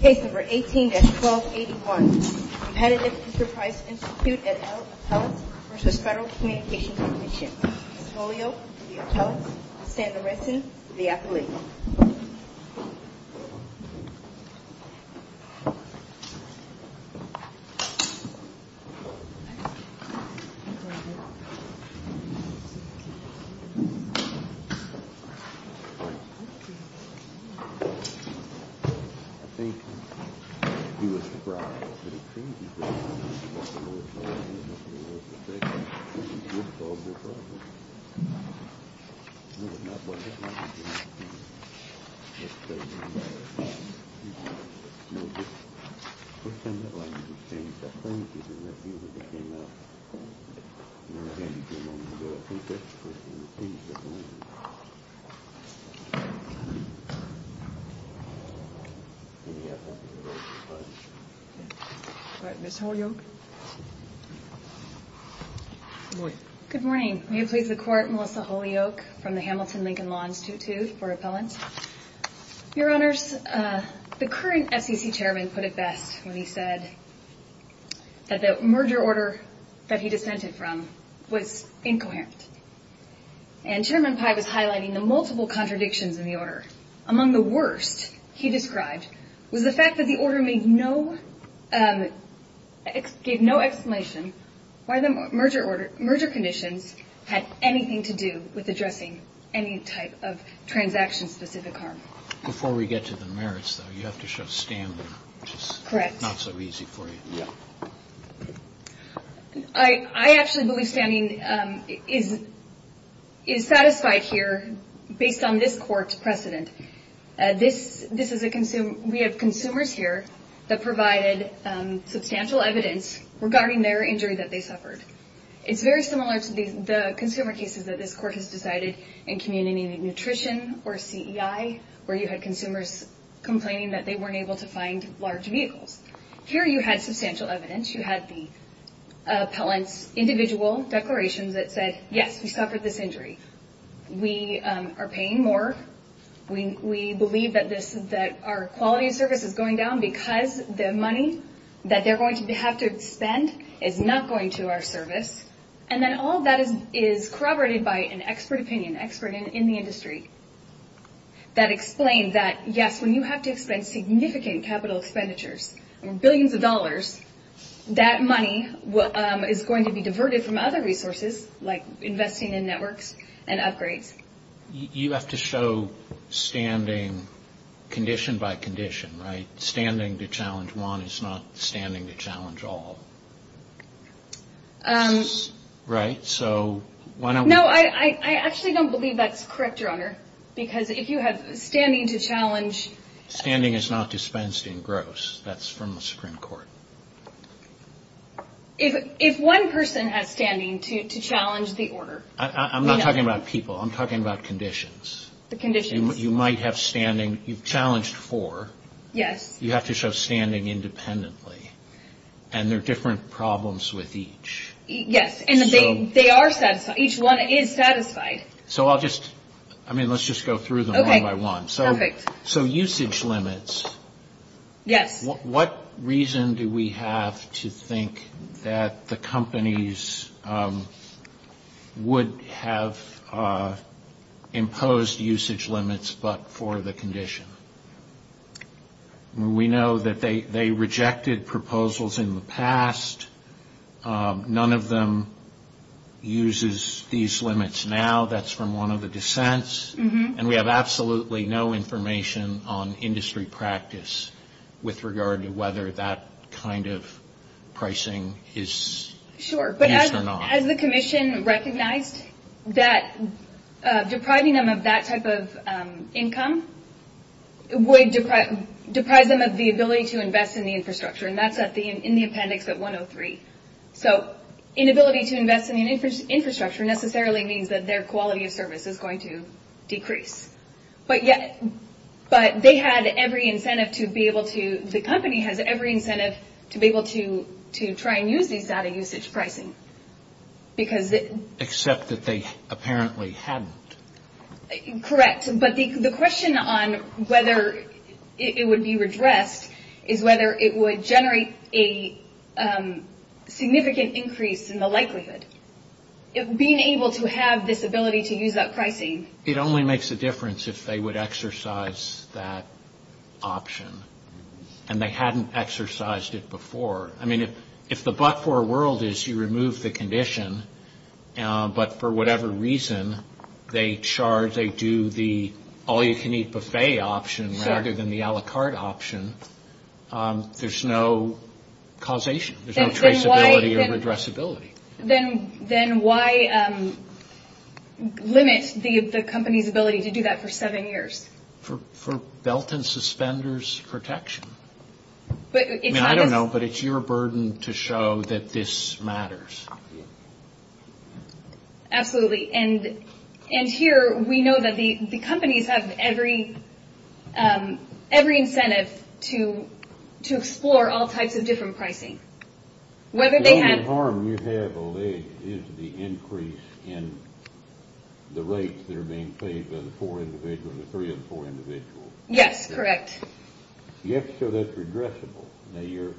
Case number 18-1281. Competitive Enterprise Institute at Appellate v. Federal Communications Commission. Mr. Polio, the appellate. Mr. Sanderson, the appellate. I think he was surprised that he changed his name. Mr. Polio, the appellate. Good morning. May it please the Court, Melissa Holyoak from the Hamilton Lincoln Lawns 2-2 for Appellant. Your Honors, the current FCC Chairman put it best when he said that the merger order that he dissented from was incoherent. And Chairman Pai was highlighting the multiple contradictions in the order. Among the worst he described was the fact that the order gave no explanation why the merger conditions had anything to do with addressing any type of transaction-specific harm. Before we get to the merits, though, you have to show standing, which is not so easy for you. I actually believe standing is satisfied here based on this Court's precedent. We have consumers here that provided substantial evidence regarding their injury that they suffered. It's very similar to the consumer cases that this Court has decided in Community Nutrition or CEI, where you had consumers complaining that they weren't able to find large vehicles. Here you had substantial evidence. You had the appellant's individual declarations that said, yes, we suffered this injury. We are paying more. We believe that our quality of service is going down because the money that they're going to have to spend is not going to our service. And then all of that is corroborated by an expert opinion, expert in the industry, that explained that, yes, when you have to expend significant capital expenditures, billions of dollars, that money is going to be diverted from other resources like investing in networks and upgrades. You have to show standing condition by condition, right? Standing to challenge one is not standing to challenge all, right? No, I actually don't believe that's correct, Your Honor, because if you have standing to challenge... Standing is not dispensed in gross. That's from the Supreme Court. If one person has standing to challenge the order... I'm not talking about people. I'm talking about conditions. The conditions. You might have standing. You've challenged four. Yes. You have to show standing independently, and there are different problems with each. Yes, and they are satisfied. Each one is satisfied. So I'll just, I mean, let's just go through them one by one. Okay, perfect. So usage limits. Yes. What reason do we have to think that the companies would have imposed usage limits but for the condition? We know that they rejected proposals in the past. None of them uses these limits now. That's from one of the dissents. And we have absolutely no information on industry practice with regard to whether that kind of pricing is used or not. Sure, but has the commission recognized that depriving them of that type of income would deprive them of the ability to invest in the infrastructure? And that's in the appendix at 103. So inability to invest in the infrastructure necessarily means that their quality of service is going to decrease. But they had every incentive to be able to, the company has every incentive to be able to try and use these data usage pricing. Except that they apparently hadn't. Correct. But the question on whether it would be redressed is whether it would generate a significant increase in the likelihood. Being able to have this ability to use that pricing. It only makes a difference if they would exercise that option. And they hadn't exercised it before. I mean, if the but for a world is you remove the condition, but for whatever reason they charge, they do the all you can eat buffet option rather than the a la carte option, there's no causation. There's no traceability or redressability. Then why limit the company's ability to do that for seven years? For belt and suspenders protection. I don't know, but it's your burden to show that this matters. Absolutely. And here we know that the companies have every incentive to explore all types of different pricing. The only harm you have is the increase in the rates that are being paid by the three of the four individuals. Yes, correct. Yes. So that's redressable. Now, you're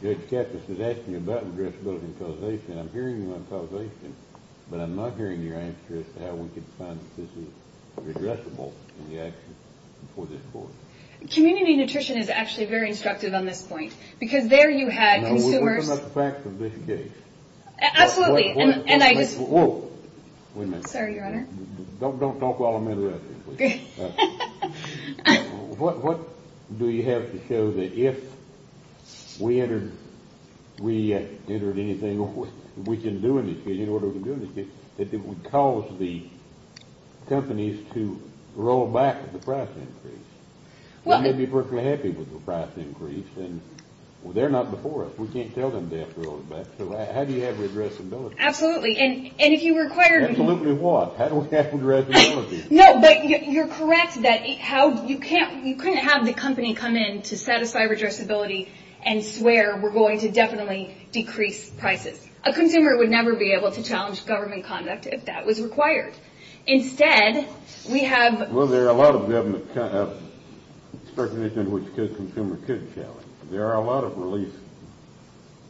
good. Katniss is asking you about addressability and causation. I'm hearing you on causation, but I'm not hearing your answer as to how we can find this is redressable in the action for this board. Community nutrition is actually very instructive on this point because there you had consumers. We're talking about the facts of this case. Absolutely. And I just. Whoa. Wait a minute. Sorry, Your Honor. Don't talk while I'm interrupting, please. What do you have to show that if we entered anything or we can do anything in order to do anything, that it would cause the companies to roll back the price increase? They may be perfectly happy with the price increase, and they're not before us. We can't tell them to roll it back. So how do you have redressability? Absolutely. And if you require. Absolutely what? How do we have redressability? No, but you're correct that you couldn't have the company come in to satisfy redressability and swear we're going to definitely decrease prices. A consumer would never be able to challenge government conduct if that was required. Instead, we have. Well, there are a lot of recommendations which a consumer could challenge. There are a lot of relief.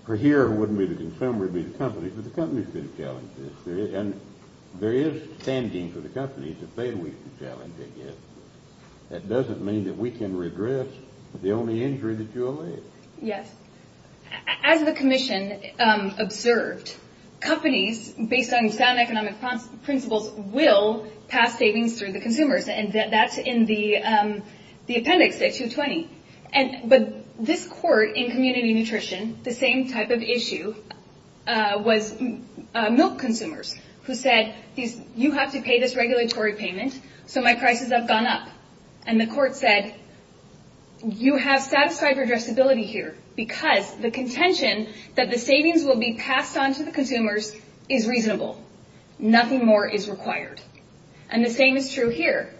For here, it wouldn't be the consumer, it would be the company, but the company could challenge this. And there is standing for the company to say we can challenge it. That doesn't mean that we can redress the only injury that you allege. Yes. As the commission observed, companies, based on sound economic principles, will pass savings through the consumers, and that's in the appendix at 220. But this court in community nutrition, the same type of issue was milk consumers, who said you have to pay this regulatory payment so my prices have gone up. And the court said you have satisfied redressability here because the contention that the savings will be passed on to the consumers is reasonable. Nothing more is required. And the same is true here.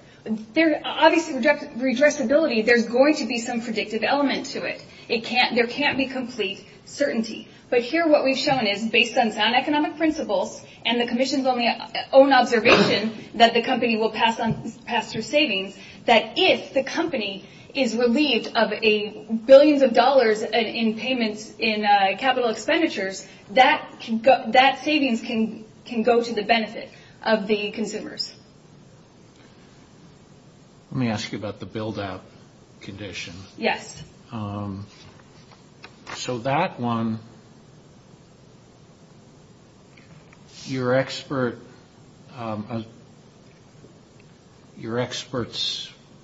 Obviously, redressability, there's going to be some predictive element to it. There can't be complete certainty. But here what we've shown is, based on sound economic principles and the commission's own observation that the company will pass through savings, that if the company is relieved of billions of dollars in payments in capital expenditures, that savings can go to the benefit of the consumers. Let me ask you about the build-up condition. Yes. So that one, your expert's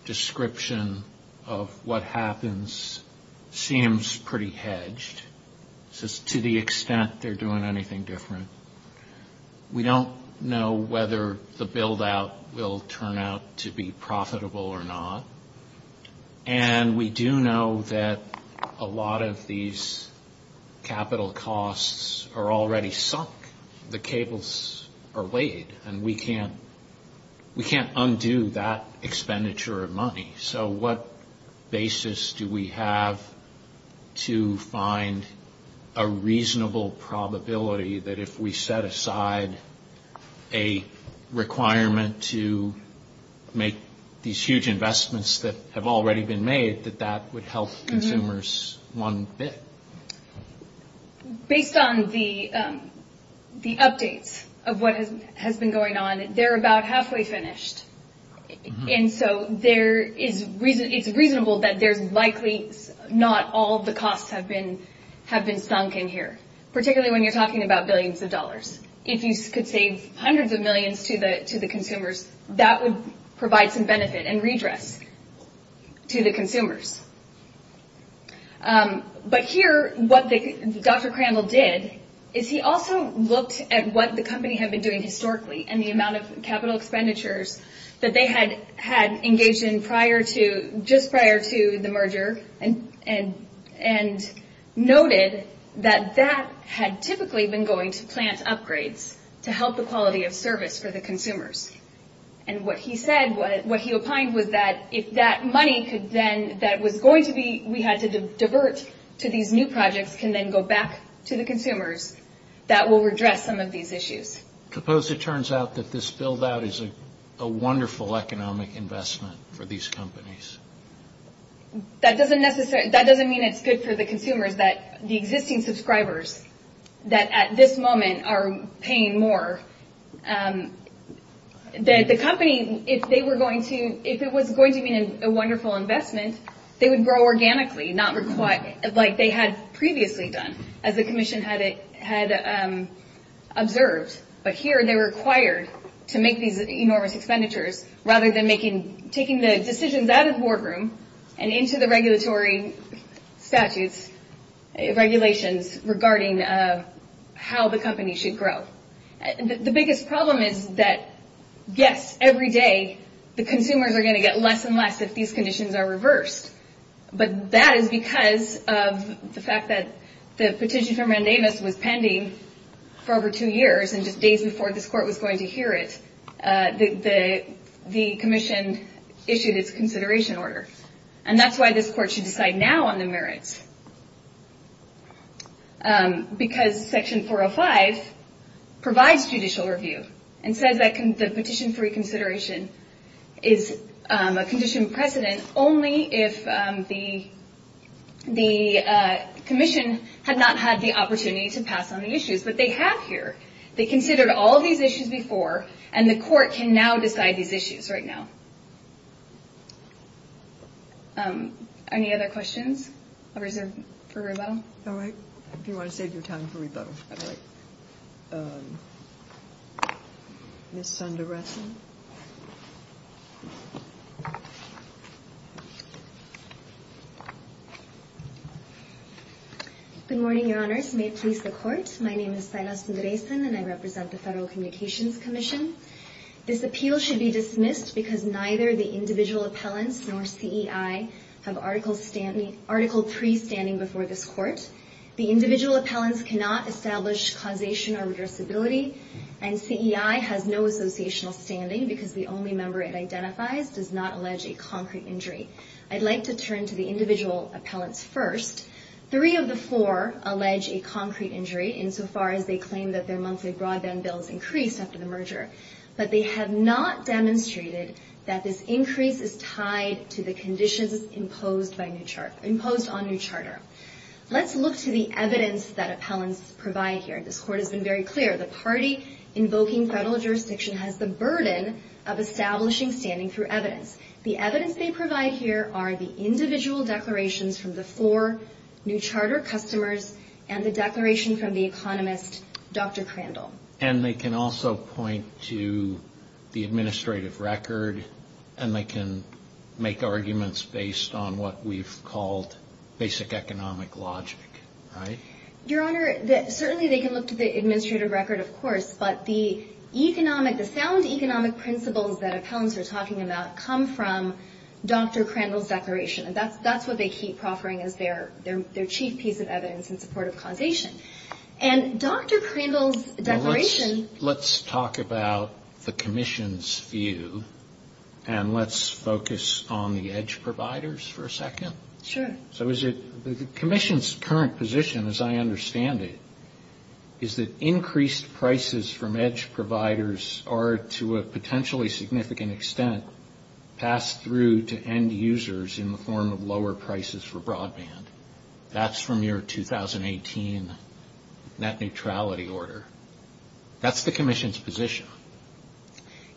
description of what happens seems pretty hedged. To the extent they're doing anything different. We don't know whether the build-out will turn out to be profitable or not. And we do know that a lot of these capital costs are already sunk. The cables are weighed, and we can't undo that expenditure of money. So what basis do we have to find a reasonable probability that if we set aside a requirement to make these huge investments that have already been made, that that would help consumers one bit? Based on the updates of what has been going on, they're about halfway finished. And so it's reasonable that there's likely not all the costs have been sunk in here, particularly when you're talking about billions of dollars. If you could save hundreds of millions to the consumers, that would provide some benefit and redress to the consumers. But here what Dr. Crandall did is he also looked at what the company had been doing historically and the amount of capital expenditures that they had engaged in just prior to the merger and noted that that had typically been going to plant upgrades to help the quality of service for the consumers. And what he said, what he opined, was that if that money that we had to divert to these new projects can then go back to the consumers, that will redress some of these issues. I suppose it turns out that this build-out is a wonderful economic investment for these companies. That doesn't mean it's good for the consumers, that the existing subscribers that at this moment are paying more. The company, if it was going to be a wonderful investment, they would grow organically, like they had previously done, as the commission had observed. But here they're required to make these enormous expenditures rather than taking the decisions out of the boardroom and into the regulatory statutes, regulations regarding how the company should grow. The biggest problem is that, yes, every day the consumers are going to get less and less if these conditions are reversed. But that is because of the fact that the petition for mandamus was pending for over two years, and just days before this court was going to hear it, the commission issued its consideration order. And that's why this court should decide now on the merits. Because Section 405 provides judicial review and says that the petition for reconsideration is a condition of precedent only if the commission had not had the opportunity to pass on the issues. But they have here. They considered all of these issues before, and the court can now decide these issues right now. Any other questions for rebuttal? All right. If you want to save your time for rebuttal. Ms. Sundaresan. Good morning, Your Honors. May it please the Court. My name is Silas Sundaresan, and I represent the Federal Communications Commission. This appeal should be dismissed because neither the individual appellants nor CEI have Article 3 standing before this court. The individual appellants cannot establish causation or reversibility, and CEI has no associational standing because the only member it identifies does not allege a concrete injury. I'd like to turn to the individual appellants first. Three of the four allege a concrete injury, insofar as they claim that their monthly broadband bill has increased after the merger. But they have not demonstrated that this increase is tied to the conditions imposed on New Charter. Let's look to the evidence that appellants provide here. This court has been very clear. The party invoking federal jurisdiction has the burden of establishing standing through evidence. The evidence they provide here are the individual declarations from the four New Charter customers and the declaration from the economist, Dr. Crandall. And they can also point to the administrative record, and they can make arguments based on what we've called basic economic logic, right? Your Honor, certainly they can look to the administrative record, of course, but the sound economic principles that appellants are talking about come from Dr. Crandall's declaration. That's what they keep proffering as their chief piece of evidence in support of causation. And Dr. Crandall's declaration... Let's talk about the commission's view, and let's focus on the EDGE providers for a second. Sure. So is it the commission's current position, as I understand it, is that increased prices from EDGE providers are, to a potentially significant extent, passed through to end users in the form of lower prices for broadband. That's from your 2018 net neutrality order. That's the commission's position.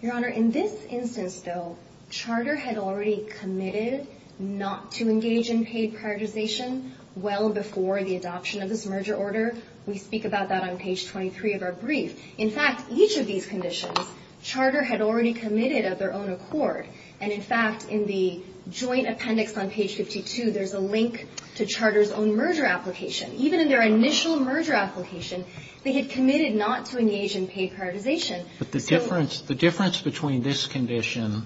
Your Honor, in this instance, though, Charter had already committed not to engage in paid prioritization well before the adoption of this merger order. We speak about that on page 23 of our brief. In fact, each of these conditions, Charter had already committed of their own accord. And, in fact, in the joint appendix on page 52, there's a link to Charter's own merger application. Even in their initial merger application, they had committed not to engage in paid prioritization. But the difference between this condition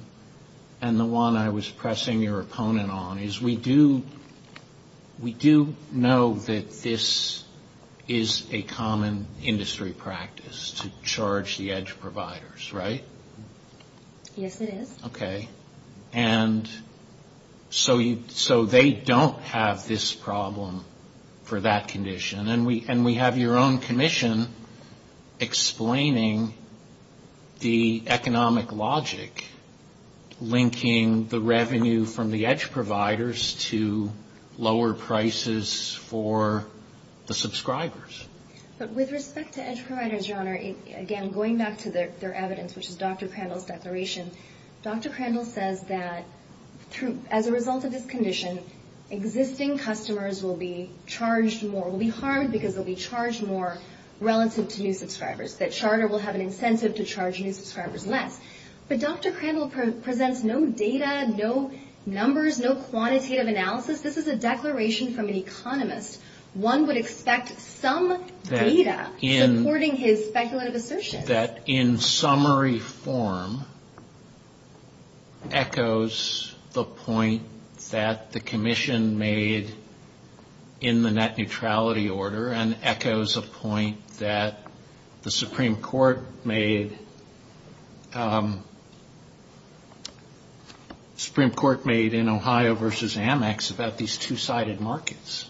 and the one I was pressing your opponent on is we do know that this is a common industry practice to charge the EDGE providers, right? Yes, it is. Okay. And so they don't have this problem for that condition. And we have your own commission explaining the economic logic linking the revenue from the EDGE providers to lower prices for the subscribers. But with respect to EDGE providers, Your Honor, again, going back to their evidence, which is Dr. Prandtl's declaration, Dr. Prandtl says that as a result of this condition, existing customers will be charged more, will be harmed because they'll be charged more relative to new subscribers, that Charter will have an incentive to charge new subscribers less. But Dr. Prandtl presents no data, no numbers, no quantitative analysis. This is a declaration from an economist. One would expect some data supporting his speculative assertion. I think that in summary form echoes the point that the commission made in the net neutrality order and echoes a point that the Supreme Court made in Ohio v. Amex about these two-sided markets.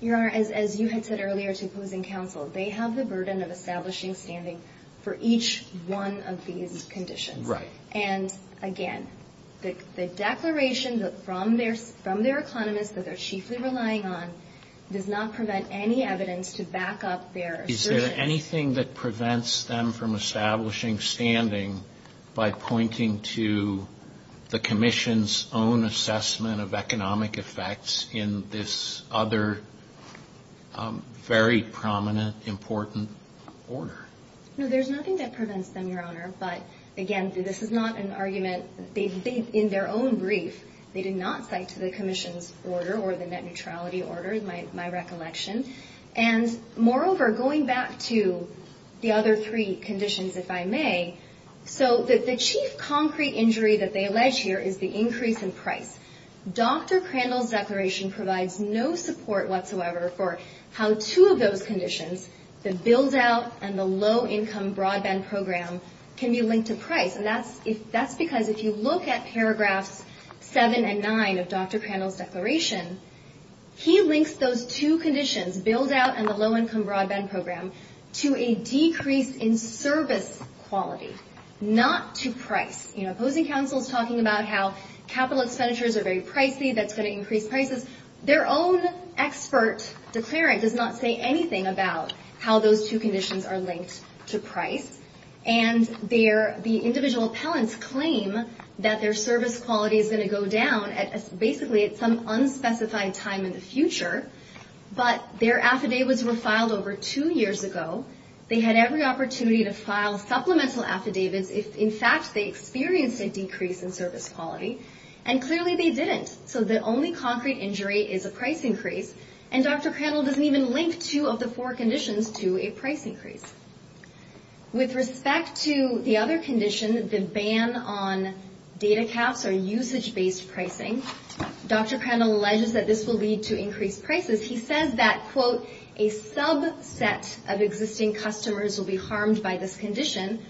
Your Honor, as you had said earlier to opposing counsel, they have the burden of establishing standing for each one of these conditions. Right. And again, the declaration from their economist that they're chiefly relying on does not prevent any evidence to back up their assertion. Is there anything that prevents them from establishing standing by pointing to the commission's own assessment of economic effects in this other very prominent, important order? No, there's nothing that prevents them, Your Honor. But again, this is not an argument in their own brief. They did not cite to the commission's order or the net neutrality order, my recollection. And moreover, going back to the other three conditions, if I may, so the chief concrete injury that they allege here is the increase in price. Dr. Crandall's declaration provides no support whatsoever for how two of those conditions, the build-out and the low-income broadband program, can be linked to price. And that's because if you look at paragraphs 7 and 9 of Dr. Crandall's declaration, he links those two conditions, build-out and the low-income broadband program, to a decrease in service quality, not to price. You know, opposing counsel is talking about how capital expenditures are very pricey, that's going to increase prices. Their own expert declarant does not say anything about how those two conditions are linked to price. And the individual appellants claim that their service quality is going to go down basically at some unspecified time in the future. But their affidavits were filed over two years ago. They had every opportunity to file supplemental affidavits if, in fact, they experienced a decrease in service quality. And clearly they didn't. So the only concrete injury is a price increase. And Dr. Crandall doesn't even link two of the four conditions to a price increase. With respect to the other condition, the ban on data caps or usage-based pricing, Dr. Crandall alleges that this will lead to increased prices. He says that, quote, a subset of existing customers will be harmed by this condition.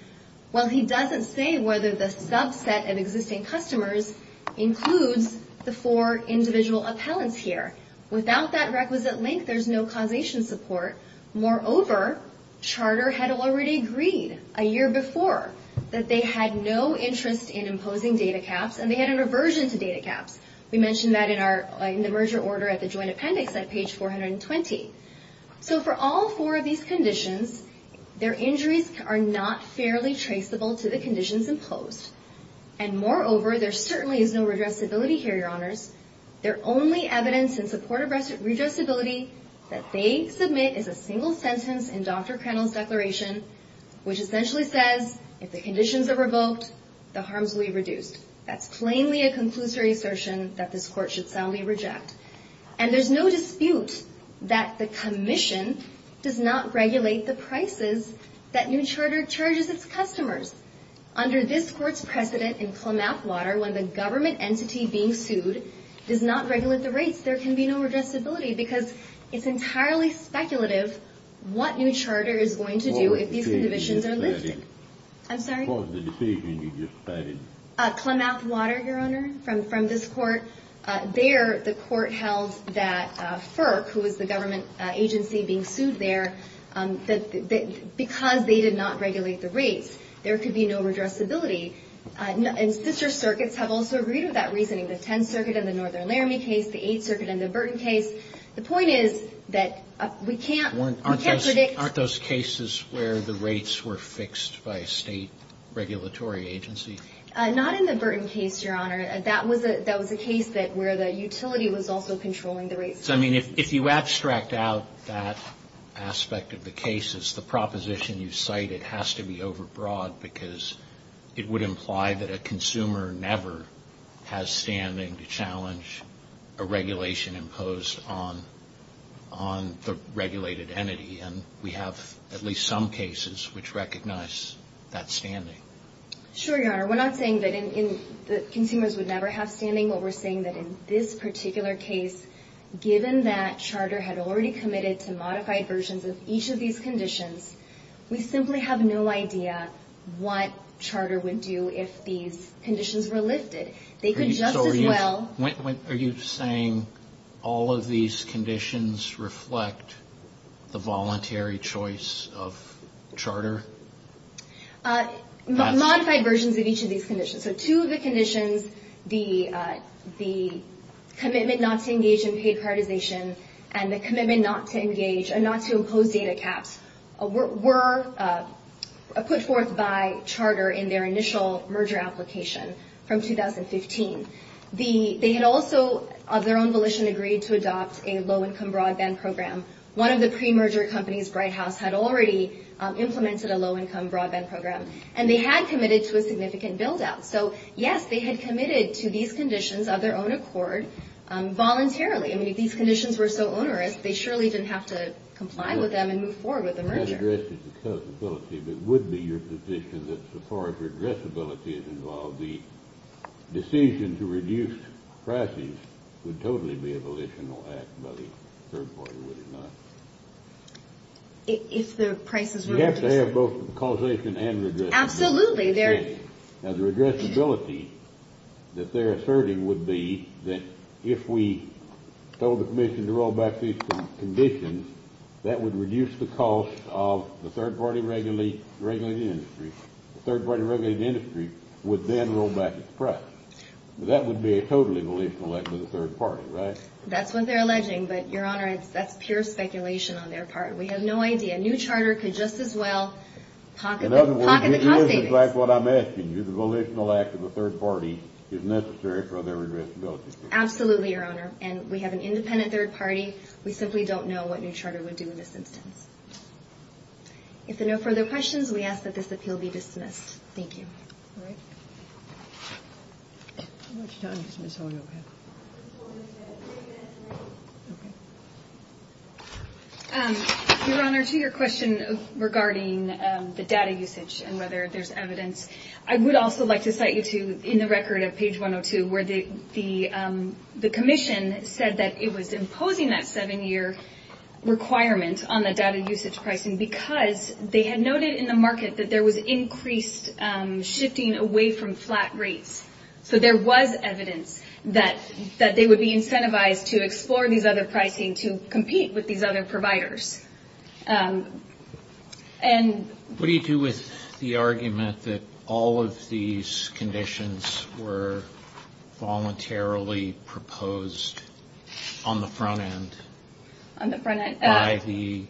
Well, he doesn't say whether the subset of existing customers includes the four individual appellants here. Without that requisite link, there's no causation support. Moreover, Charter had already agreed a year before that they had no interest in imposing data caps, and they had an aversion to data caps. We mentioned that in the merger order at the joint appendix at page 420. So for all four of these conditions, their injuries are not fairly traceable to the conditions imposed. And moreover, there certainly is no redressability here, Your Honors. Their only evidence in support of redressability that they submit is a single sentence in Dr. Crandall's declaration, which essentially says if the conditions are revoked, the harms will be reduced. That's plainly a conclusory assertion that this Court should soundly reject. And there's no dispute that the Commission does not regulate the prices that new Charter charges its customers. Under this Court's precedent in Klamath Water, when the government entity being sued does not regulate the rates, there can be no redressability because it's entirely speculative what new Charter is going to do if these conditions are lifted. Klamath Water, Your Honor, from this Court. There, the Court held that FERC, who was the government agency being sued there, because they did not regulate the rates, there could be no redressability. And sister circuits have also agreed with that reasoning. The Tenth Circuit in the Northern Laramie case, the Eighth Circuit in the Burton case. The point is that we can't predict... Aren't those cases where the rates were fixed by a state regulatory agency? Not in the Burton case, Your Honor. That was a case where the utility was also controlling the rates. So, I mean, if you abstract out that aspect of the cases, the proposition you cited has to be overbroad because it would imply that a consumer never has standing to challenge a regulation imposed on the regulated entity. And we have at least some cases which recognize that standing. Sure, Your Honor. We're not saying that consumers would never have standing. What we're saying is that in this particular case, given that Charter had already committed to modified versions of each of these conditions, we simply have no idea what Charter would do if these conditions were lifted. Are you saying all of these conditions reflect the voluntary choice of Charter? Modified versions of each of these conditions. So two of the conditions, the commitment not to engage in paid cardization and the commitment not to engage and not to impose data caps, were put forth by Charter in their initial merger application from 2015. They had also, of their own volition, agreed to adopt a low-income broadband program. One of the pre-merger companies, Bright House, had already implemented a low-income broadband program. And they had committed to a significant build-out. So, yes, they had committed to these conditions of their own accord voluntarily. I mean, if these conditions were so onerous, they surely didn't have to comply with them and move forward with the merger. It's not addressed as a causability, but it would be your position that so far as redressability is involved, the decision to reduce prices would totally be a volitional act by the third party, would it not? We'd have to have both causation and redressability. Now, the redressability that they're asserting would be that if we told the Commission to roll back these conditions, that would reduce the cost of the third-party regulated industry. The third-party regulated industry would then roll back its price. That would be a totally volitional act by the third party, right? That's what they're alleging, but, Your Honor, that's pure speculation on their part. We have no idea. New Charter could just as well pocket the cost savings. Just like what I'm asking you, the volitional act of the third party is necessary for their redressability. Absolutely, Your Honor, and we have an independent third party. We simply don't know what New Charter would do in this instance. If there are no further questions, we ask that this appeal be dismissed. Thank you. All right. Your Honor, to your question regarding the data usage and whether there's evidence, I would also like to cite you to in the record of page 102, where the Commission said that it was imposing that seven-year requirement on the data usage pricing because they had noted in the market that there was increased shifting away from flat rates. So there was evidence that they would be incentivized to explore these other pricing to compete with these other providers. What do you do with the argument that all of these conditions were voluntarily proposed on the front end by the FCC and that they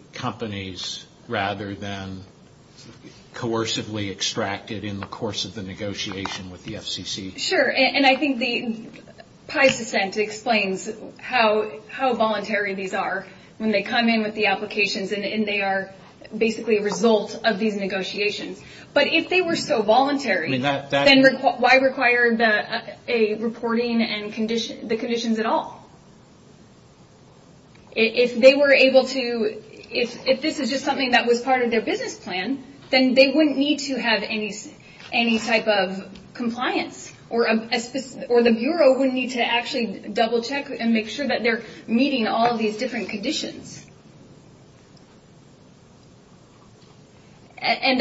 would be extracted in the course of the negotiation with the FCC? Sure, and I think the Pai's dissent explains how voluntary these are when they come in with the applications and they are basically a result of these negotiations. But if they were so voluntary, then why require the reporting and the conditions at all? If they were able to, if this is just something that was part of their business plan, then they wouldn't need to have any type of compliance or the Bureau wouldn't need to actually double check and make sure that they're meeting all of these different conditions. And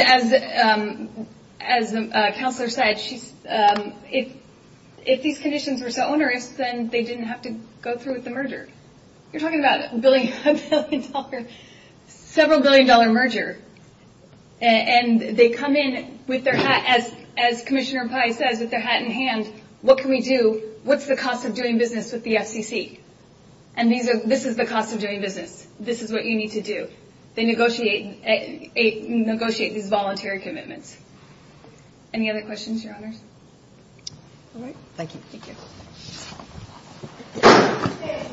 as the counselor said, if these conditions were so onerous, then they didn't have to go through with the merger. You're talking about a billion dollar, several billion dollar merger. And they come in with their hat, as Commissioner Pai says, with their hat in hand, what can we do? What's the cost of doing business with the FCC? And this is the cost of doing business. This is what you need to do. They negotiate these voluntary commitments. Any other questions, Your Honors?